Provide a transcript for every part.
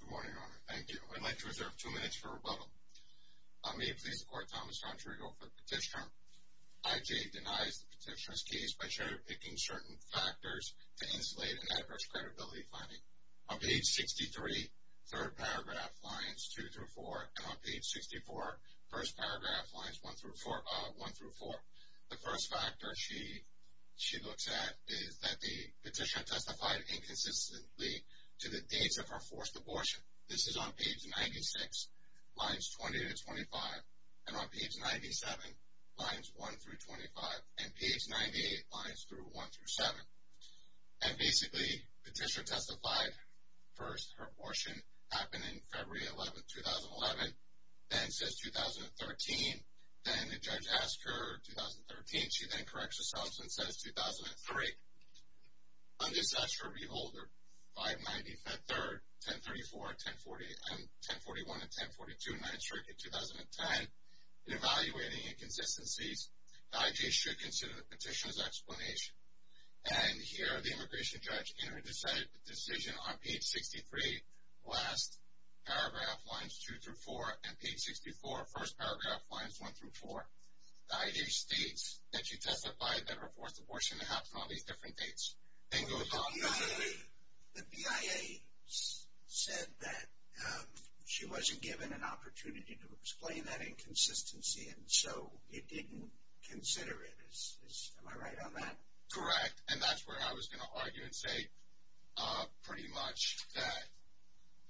Good morning, Your Honor. Thank you. I'd like to reserve two minutes for rebuttal. May it please the Court, Thomas R. Rodrigo for the petitioner. I.J. denies the petitioner's case by stereotyping certain factors to insulate an adverse credibility finding. On page 63, third paragraph, lines 2-4, and on page 64, first paragraph, lines 1-4, the first factor she looks at is that the petitioner testified inconsistently to the dates of her forced abortion. This is on page 96, lines 20-25, and on page 97, lines 1-25, and page 98, lines 1-7. And basically, the petitioner testified, first, her abortion happened in February 11, 2011, then says 2013, then the judge asked her, 2013, she then corrects herself and says 2003. Under such, her reholder, 590, fed 3rd, 1034, 1041, and 1042, and 9th Circuit, 2010, in evaluating inconsistencies, I.J. should consider the petitioner's explanation. And here, the immigration judge in her decision on page 63, last paragraph, lines 2-4, and page 64, first paragraph, lines 1-4, I.J. states that she testified that her forced abortion happened on these different dates. The BIA said that she wasn't given an opportunity to explain that inconsistency, and so it didn't consider it. Am I right on that? Correct, and that's where I was going to argue and say pretty much that,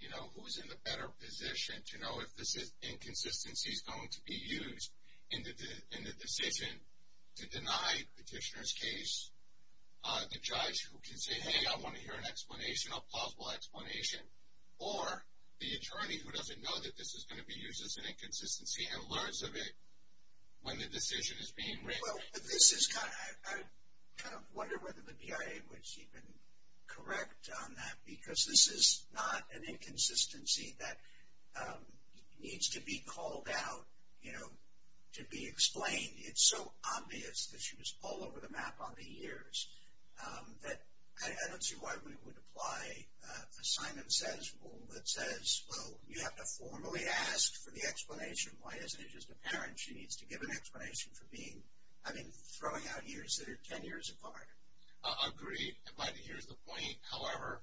you know, who's in the better position to know if this inconsistency is going to be used in the decision to deny the petitioner's case? The judge who can say, hey, I want to hear an explanation, a plausible explanation, or the attorney who doesn't know that this is going to be used as an inconsistency and learns of it when the decision is being written. Well, this is kind of, I kind of wonder whether the BIA was even correct on that, because this is not an inconsistency that needs to be called out, you know, to be explained. It's so obvious that she was all over the map on the years that I don't see why we would apply a sign that says, well, you have to formally ask for the explanation. Why isn't it just apparent she needs to give an explanation for being, I mean, throwing out years that are 10 years apart? I agree, but here's the point. However,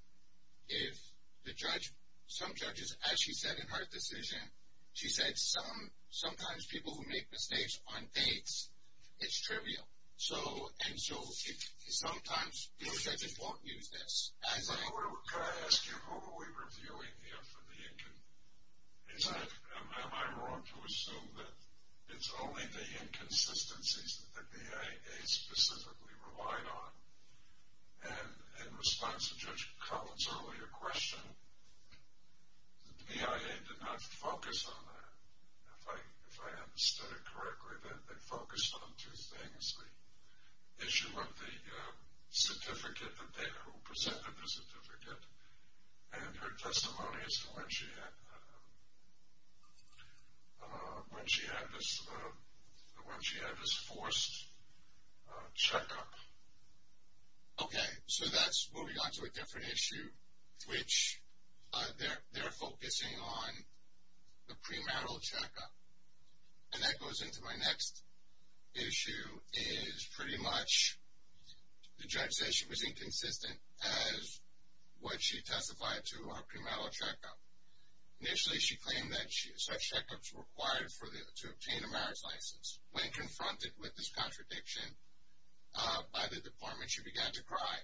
if the judge, some judges, as she said in her decision, she said some, sometimes people who make mistakes on dates, it's trivial. So, and so if sometimes your judges won't use this. Can I ask you, who are we reviewing here for the inconsistencies? Am I wrong to assume that it's only the inconsistencies that the BIA specifically relied on? And in response to Judge Collins' earlier question, the BIA did not focus on that. If I understood it correctly, they focused on two things. One is the issue of the certificate that they presented, the certificate, and her testimony as to when she had this forced checkup. Okay, so that's moving on to a different issue, which they're focusing on the premarital checkup. And that goes into my next issue is pretty much, the judge says she was inconsistent as what she testified to her premarital checkup. Initially, she claimed that such checkups were required to obtain a marriage license. When confronted with this contradiction by the department, she began to cry.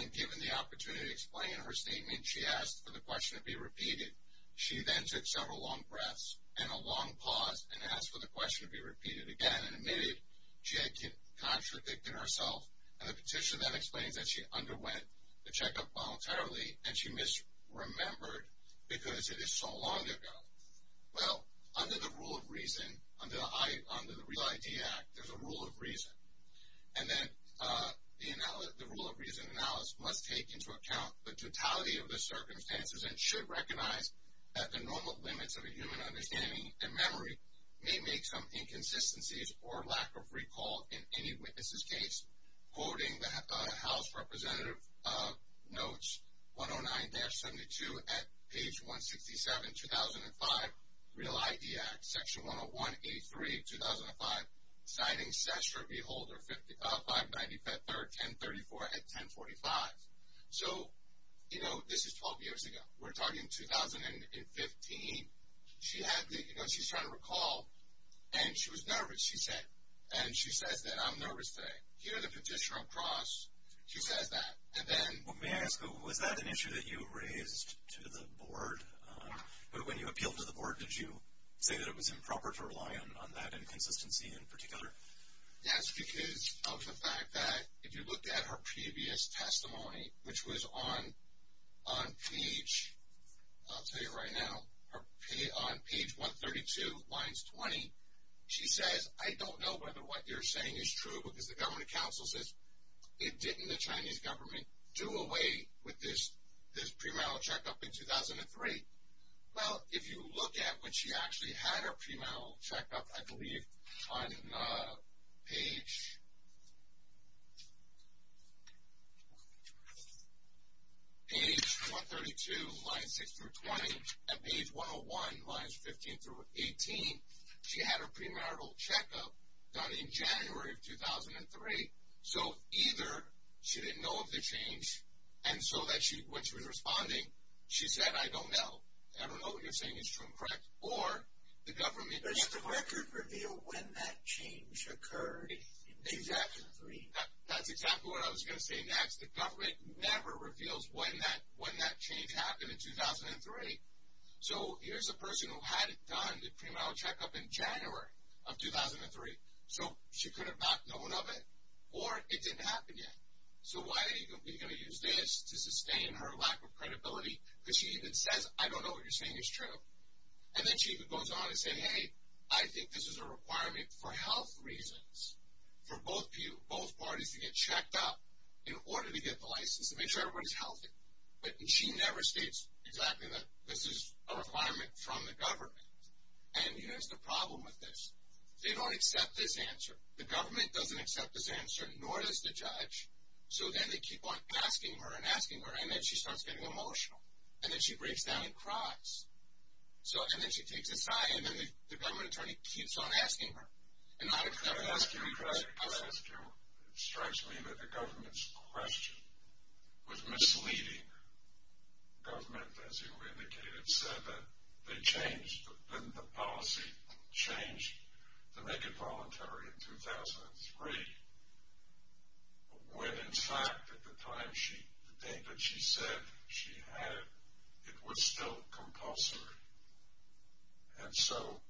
And given the opportunity to explain her statement, she asked for the question to be repeated. She then took several long breaths and a long pause and asked for the question to be repeated again and admitted she had contradicted herself. And the petition then explains that she underwent the checkup voluntarily and she misremembered because it is so long ago. Well, under the Rule of Reason, under the REAL ID Act, there's a Rule of Reason. And then the Rule of Reason analyst must take into account the totality of the circumstances and should recognize that the normal limits of a human understanding and memory may make some inconsistencies or lack of recall in any witness's case. Quoting the House Representative Notes 109-72 at page 167, 2005, REAL ID Act, Section 101A3, 2005, citing Cessner v. Holder 595-1034 at 1045. So, you know, this is 12 years ago. We're talking 2015. She had the, you know, she's trying to recall, and she was nervous, she said. And she says that, I'm nervous today. Hear the petitioner across. She says that. And then... Well, may I ask, was that an issue that you raised to the board? When you appealed to the board, did you say that it was improper to rely on that inconsistency in particular? Yes, because of the fact that if you looked at her previous testimony, which was on page, I'll tell you right now, on page 132, lines 20, she says, I don't know whether what you're saying is true because the government counsel says it didn't the Chinese government do away with this premarital checkup in 2003. Well, if you look at when she actually had her premarital checkup, I believe on page 132, lines 6-20, and page 101, lines 15-18, she had her premarital checkup done in January of 2003. So either she didn't know of the change, and so when she was responding, she said, I don't know. I don't know what you're saying is true and correct. Or the government... Does the record reveal when that change occurred in 2003? That's exactly what I was going to say next. The government never reveals when that change happened in 2003. So here's a person who had it done, the premarital checkup in January of 2003. So she could have not known of it, or it didn't happen yet. So why are you going to use this to sustain her lack of credibility? Because she even says, I don't know what you're saying is true. And then she even goes on to say, hey, I think this is a requirement for health reasons, for both parties to get checked up in order to get the license to make sure everybody's healthy. But she never states exactly that this is a requirement from the government. And here's the problem with this. They don't accept this answer. The government doesn't accept this answer, nor does the judge. So then they keep on asking her and asking her, and then she starts getting emotional. And then she breaks down and cries. And then she takes a sigh, and then the government attorney keeps on asking her. And not a clear answer. Could I ask you, it strikes me that the government's question was misleading. The government, as you indicated, said that they changed the policy, changed to make it voluntary in 2003, when in fact at the time, the day that she said she had it, it was still compulsory. And so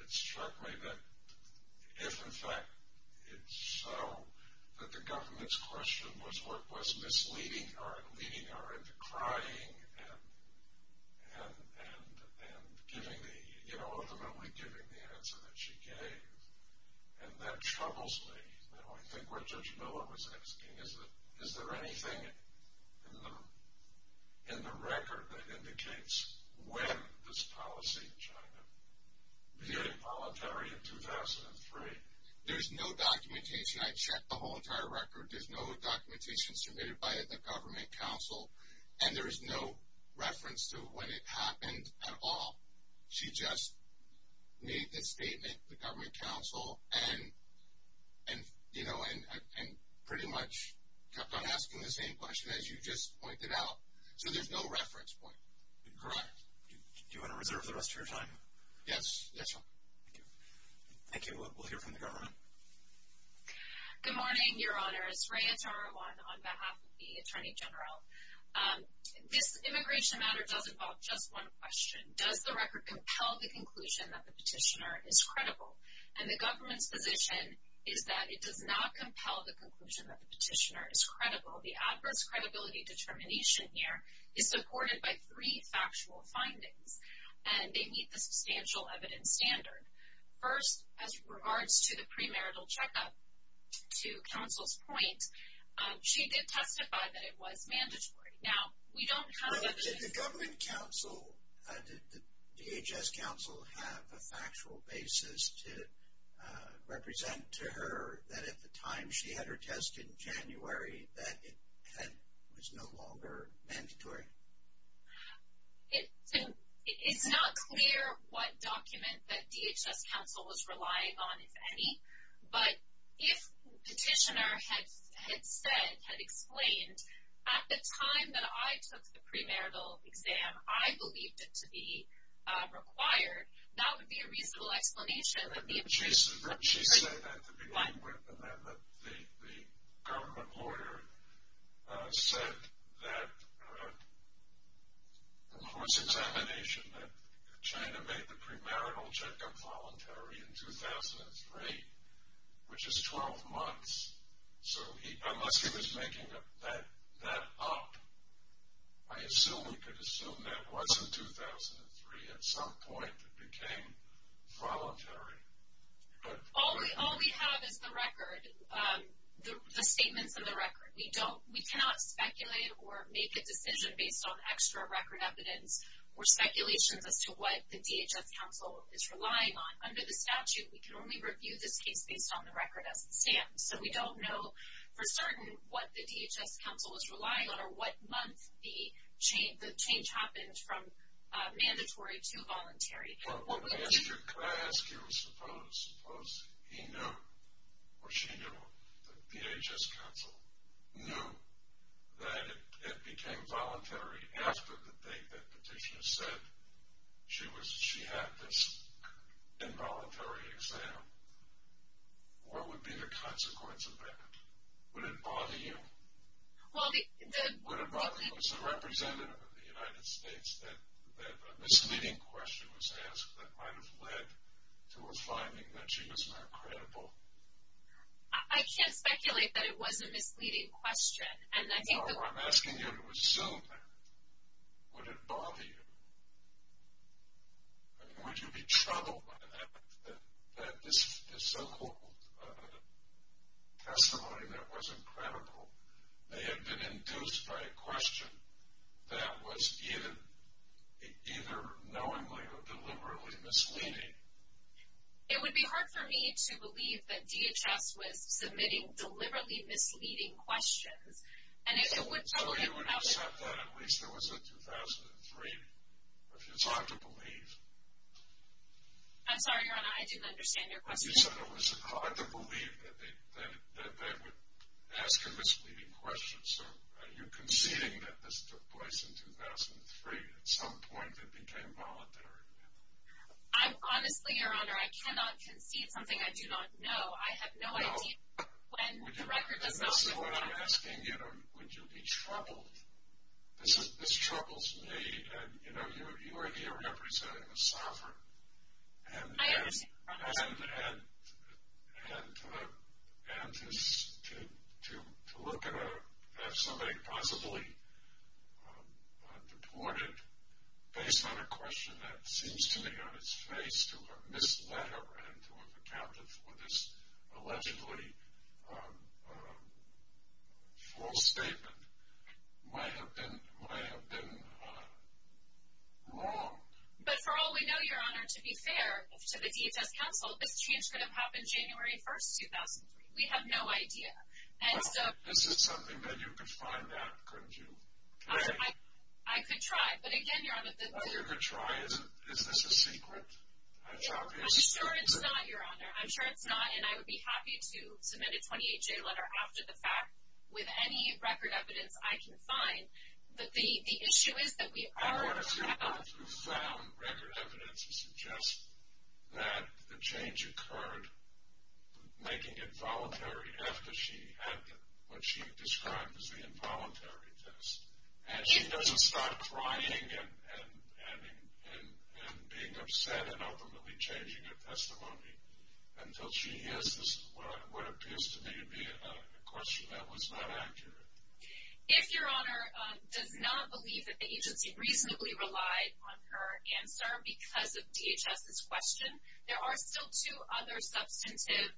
it struck me that if in fact it's so, that the government's question was what was misleading her and leading her into crying and ultimately giving the answer that she gave. And that troubles me. I think what Judge Miller was asking, is there anything in the record that indicates when this policy in China became voluntary in 2003? There's no documentation. I checked the whole entire record. There's no documentation submitted by the government counsel. And there's no reference to when it happened at all. She just made the statement, the government counsel, and pretty much kept on asking the same question as you just pointed out. So there's no reference point. Correct. Do you want to reserve the rest of your time? Yes. Thank you. Thank you. We'll hear from the government. Good morning, Your Honors. Raya Tarawan on behalf of the Attorney General. This immigration matter does involve just one question. Does the record compel the conclusion that the petitioner is credible? And the government's position is that it does not compel the conclusion that the petitioner is credible. The adverse credibility determination here is supported by three factual findings, and they meet the substantial evidence standard. First, as regards to the premarital checkup, to counsel's point, she did testify that it was mandatory. Now, we don't have evidence. Did the government counsel, did the DHS counsel have a factual basis to represent to her that at the time she had her test in January, that it was no longer mandatory? It's not clear what document that DHS counsel was relying on, if any. But if the petitioner had said, had explained, at the time that I took the premarital exam, I believed it to be required, that would be a reasonable explanation. She said that at the beginning, and that the government lawyer said that in the court's examination, that China made the premarital checkup voluntary in 2003, which is 12 months. So unless he was making that up, I assume we could assume that was in 2003. At some point, it became voluntary. All we have is the record, the statements in the record. We don't, we cannot speculate or make a decision based on extra record evidence or speculations as to what the DHS counsel is relying on. Under the statute, we can only review this case based on the record as it stands. So we don't know for certain what the DHS counsel was relying on or what month the change happened from mandatory to voluntary. What I ask you, suppose he knew, or she knew, that the DHS counsel knew that it became voluntary after the date that petitioner said she had this involuntary exam. What would be the consequence of that? Would it bother you? Would it bother you as a representative of the United States that a misleading question was asked that might have led to a finding that she was not credible? I can't speculate that it was a misleading question. I'm asking you to assume that. Would it bother you? Would you be troubled by the fact that this so-called testimony that wasn't credible may have been induced by a question that was either knowingly or deliberately misleading? It would be hard for me to believe that DHS was submitting deliberately misleading questions. So would you accept that at least there was a 2003? It's hard to believe. I'm sorry, Your Honor, I didn't understand your question. You said it was hard to believe that they would ask a misleading question. So are you conceding that this took place in 2003 at some point and became voluntary? Honestly, Your Honor, I cannot concede something I do not know. I have no idea when the record does not show it. So what I'm asking you, would you be troubled? This troubles me, and, you know, you are here representing a sovereign. I understand. And to look at somebody possibly deported based on a question that seems to me on its face to have misled her and to have accounted for this allegedly false statement might have been wrong. But for all we know, Your Honor, to be fair to the DHS counsel, this change could have happened January 1, 2003. We have no idea. Well, this is something that you could find out, couldn't you? I could try, but again, Your Honor. Well, you could try. Is this a secret? I'm sure it's not, Your Honor. I'm sure it's not, and I would be happy to submit a 28-J letter after the fact with any record evidence I can find. But the issue is that we are now. I don't want to feel profound record evidence to suggest that the change occurred making it voluntary after she had what she described as the involuntary test. And she doesn't start crying and being upset and ultimately changing her testimony until she hears what appears to me to be a question that was not accurate. If Your Honor does not believe that the agency reasonably relied on her answer because of DHS's question, there are still two other substantive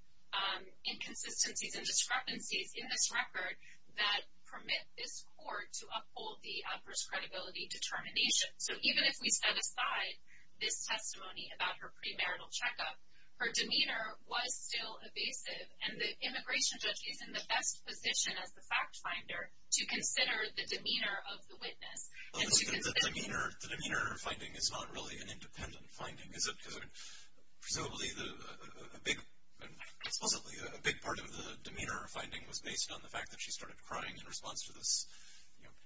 inconsistencies and discrepancies in this record that permit this court to uphold the adverse credibility determination. So even if we set aside this testimony about her premarital checkup, her demeanor was still evasive, and the immigration judge is in the best position as the fact finder to consider the demeanor of the witness. The demeanor finding is not really an independent finding, is it? Presumably a big part of the demeanor finding was based on the fact that she started crying in response to this,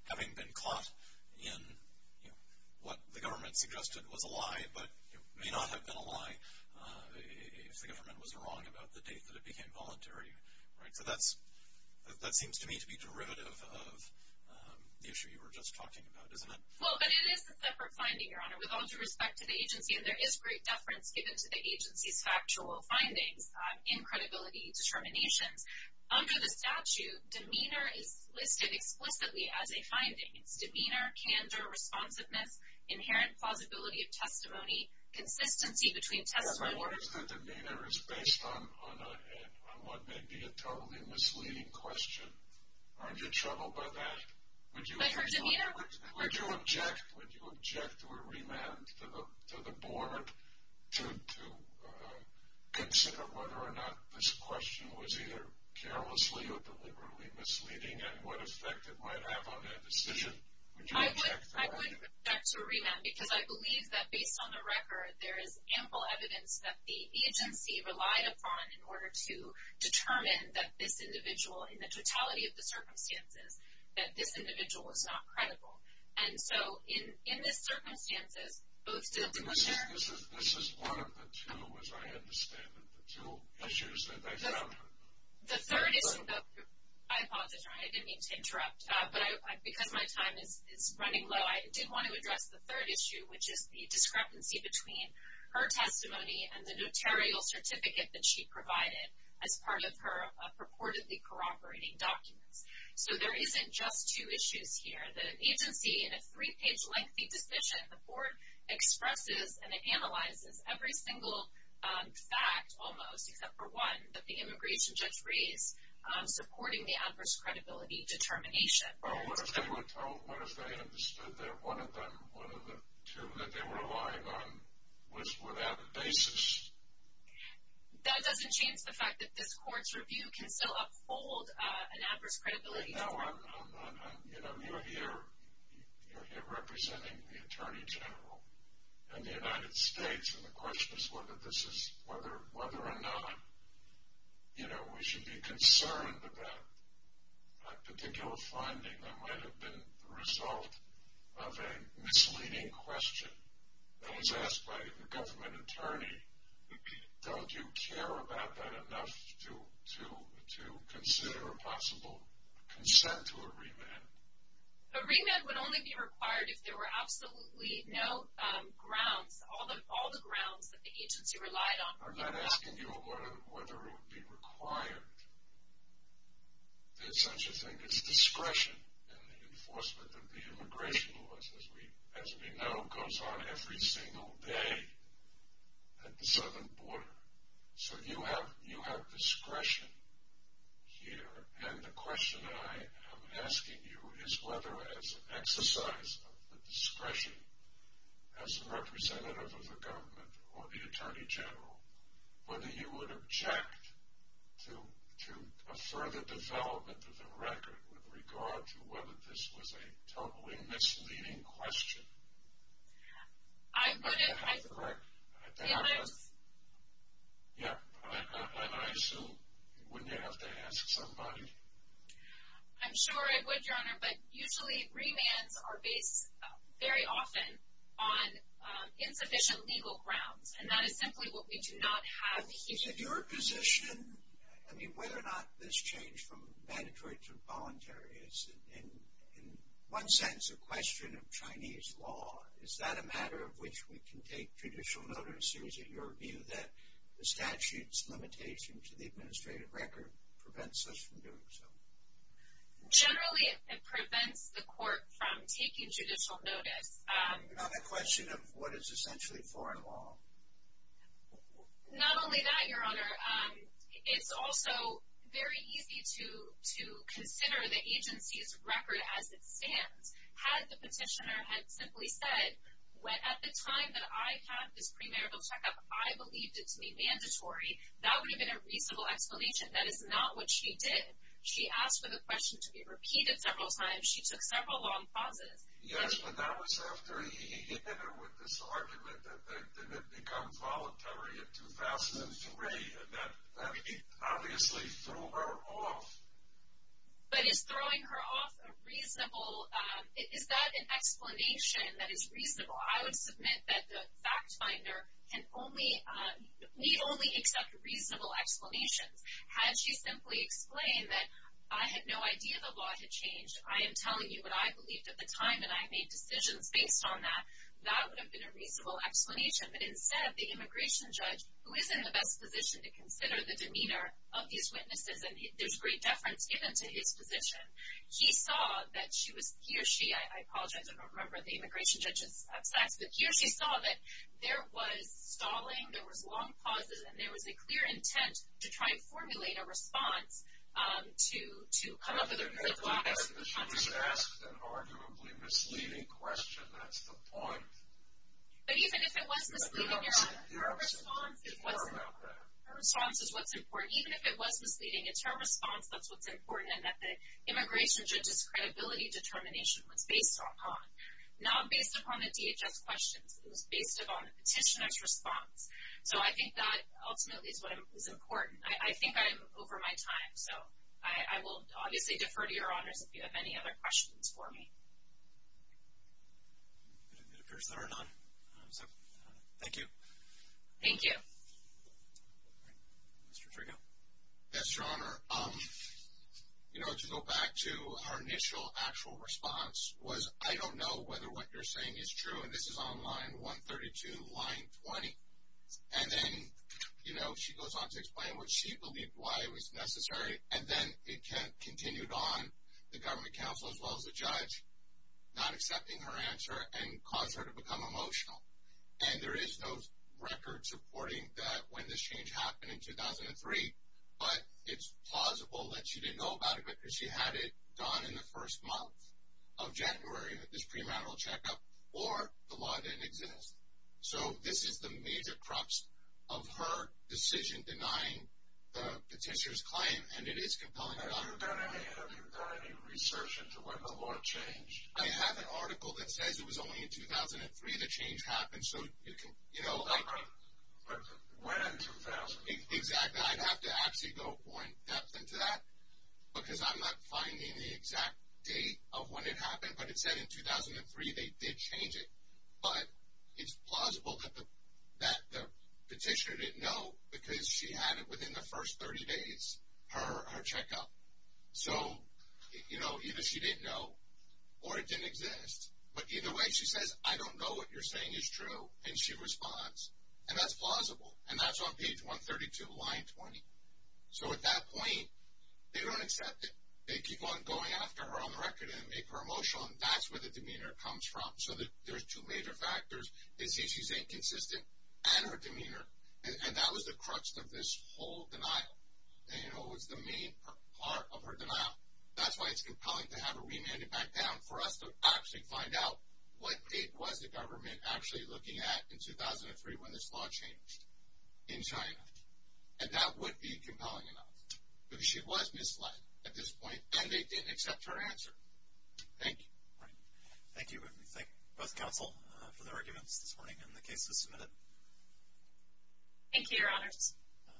having been caught in what the government suggested was a lie, but may not have been a lie if the government was wrong about the date that it became voluntary. So that seems to me to be derivative of the issue you were just talking about, isn't it? Well, but it is a separate finding, Your Honor, with all due respect to the agency, and there is great deference given to the agency's factual findings in credibility determinations. Under the statute, demeanor is listed explicitly as a finding. It's demeanor, candor, responsiveness, inherent plausibility of testimony, consistency between testimony... Yes, but what if the demeanor is based on what may be a totally misleading question? Aren't you troubled by that? Would you object to a remand to the board to consider whether or not this question was either carelessly or deliberately misleading, and what effect it might have on that decision? I would object to a remand because I believe that, based on the record, there is ample evidence that the agency relied upon in order to determine that this individual, in the totality of the circumstances, that this individual was not credible. And so, in this circumstances, both... This is one of the two, as I understand it, the two issues that I found. The third issue... I apologize, Your Honor, I didn't mean to interrupt, but because my time is running low, I did want to address the third issue, which is the discrepancy between her testimony and the notarial certificate that she provided as part of her purportedly corroborating documents. So there isn't just two issues here. The agency, in a three-page lengthy decision, the board expresses and analyzes every single fact, almost, except for one that the immigration judge raised, supporting the adverse credibility determination. Well, what if they understood that one of them, one of the two that they were relying on, was without a basis? That doesn't change the fact that this court's review can still uphold an adverse credibility. No, I'm not... You know, you're here representing the Attorney General and the United States, and the question is whether or not, you know, we should be concerned about a particular finding that might have been the result of a misleading question that was asked by the government attorney. Don't you care about that enough to consider a possible consent to a remand? A remand would only be required if there were absolutely no grounds, all the grounds that the agency relied on. I'm not asking you whether it would be required. There's such a thing as discretion in the enforcement of the immigration laws, as we know, goes on every single day at the southern border. So you have discretion here, and the question I am asking you is whether, as an exercise of the discretion, as a representative of the government or the Attorney General, whether you would object to a further development of the record with regard to whether this was a totally misleading question. I wouldn't... The other... Yeah, and I assume you wouldn't have to ask somebody. I'm sure I would, Your Honor, but usually remands are based very often on insufficient legal grounds, and that is simply what we do not have here. Is it your position, I mean, whether or not this change from mandatory to voluntary is, in one sense, a question of Chinese law? Is that a matter of which we can take judicial notice, or is it your view that the statute's limitation to the administrative record prevents us from doing so? Generally, it prevents the court from taking judicial notice. Another question of what is essentially foreign law. Not only that, Your Honor, it's also very easy to consider the agency's record as it stands. Had the petitioner had simply said, at the time that I had this premarital checkup, I believed it to be mandatory, that would have been a reasonable explanation. That is not what she did. She asked for the question to be repeated several times. She took several long pauses. Yes, but that was after he hit her with this argument that it becomes voluntary in 2003, and that obviously threw her off. But is throwing her off a reasonable – is that an explanation that is reasonable? I would submit that the fact finder can only – need only accept reasonable explanations. Had she simply explained that I had no idea the law had changed, I am telling you what I believed at the time, and I made decisions based on that, that would have been a reasonable explanation. But instead, the immigration judge, who is in the best position to consider the demeanor of these witnesses, and there's great deference given to his position, he saw that she was – he or she – I apologize, I don't remember the immigration judge's facts, but he or she saw that there was stalling, there was long pauses, and there was a clear intent to try and formulate a response to come up with a good, wise – She was asked an arguably misleading question. That's the point. But even if it was misleading, her response is what's important. Even if it was misleading, it's her response that's what's important, and that the immigration judge's credibility determination was based upon, not based upon the DHS questions. It was based upon the petitioner's response. So I think that ultimately is what is important. I think I'm over my time, so I will obviously defer to your honors if you have any other questions for me. It appears there are none, so thank you. Thank you. Mr. Trigo. Yes, Your Honor. You know, to go back to our initial actual response, was I don't know whether what you're saying is true, and this is on line 132, line 20. And then, you know, she goes on to explain what she believed, why it was necessary, and then it continued on, the government counsel as well as the judge not accepting her answer and caused her to become emotional. And there is no record supporting that when this change happened in 2003, but it's plausible that she didn't know about it because she had it done in the first month of January with this premarital checkup, or the law didn't exist. So this is the major crux of her decision denying the petitioner's claim, and it is compelling enough. Have you done any research into when the law changed? I have an article that says it was only in 2003 the change happened, so you can, you know. But when in 2003? Exactly. I'd have to actually go more in depth into that because I'm not finding the exact date of when it happened, but it said in 2003 they did change it. But it's plausible that the petitioner didn't know because she had it within the first 30 days, her checkup. So, you know, either she didn't know or it didn't exist. But either way, she says, I don't know what you're saying is true, and she responds. And that's plausible, and that's on page 132, line 20. So at that point, they don't accept it. They keep on going after her on the record and make her emotional, and that's where the demeanor comes from. So there's two major factors. They say she's inconsistent and her demeanor, and that was the crux of this whole denial. And, you know, it was the main part of her denial. That's why it's compelling to have her remanded back down for us to actually find out what date was the government actually looking at in 2003 when this law changed in China. And that would be compelling enough because she was misled at this point, and they didn't accept her answer. Thank you. All right. Thank you, and we thank both counsel for the arguments this morning and the cases submitted. Thank you, Your Honors.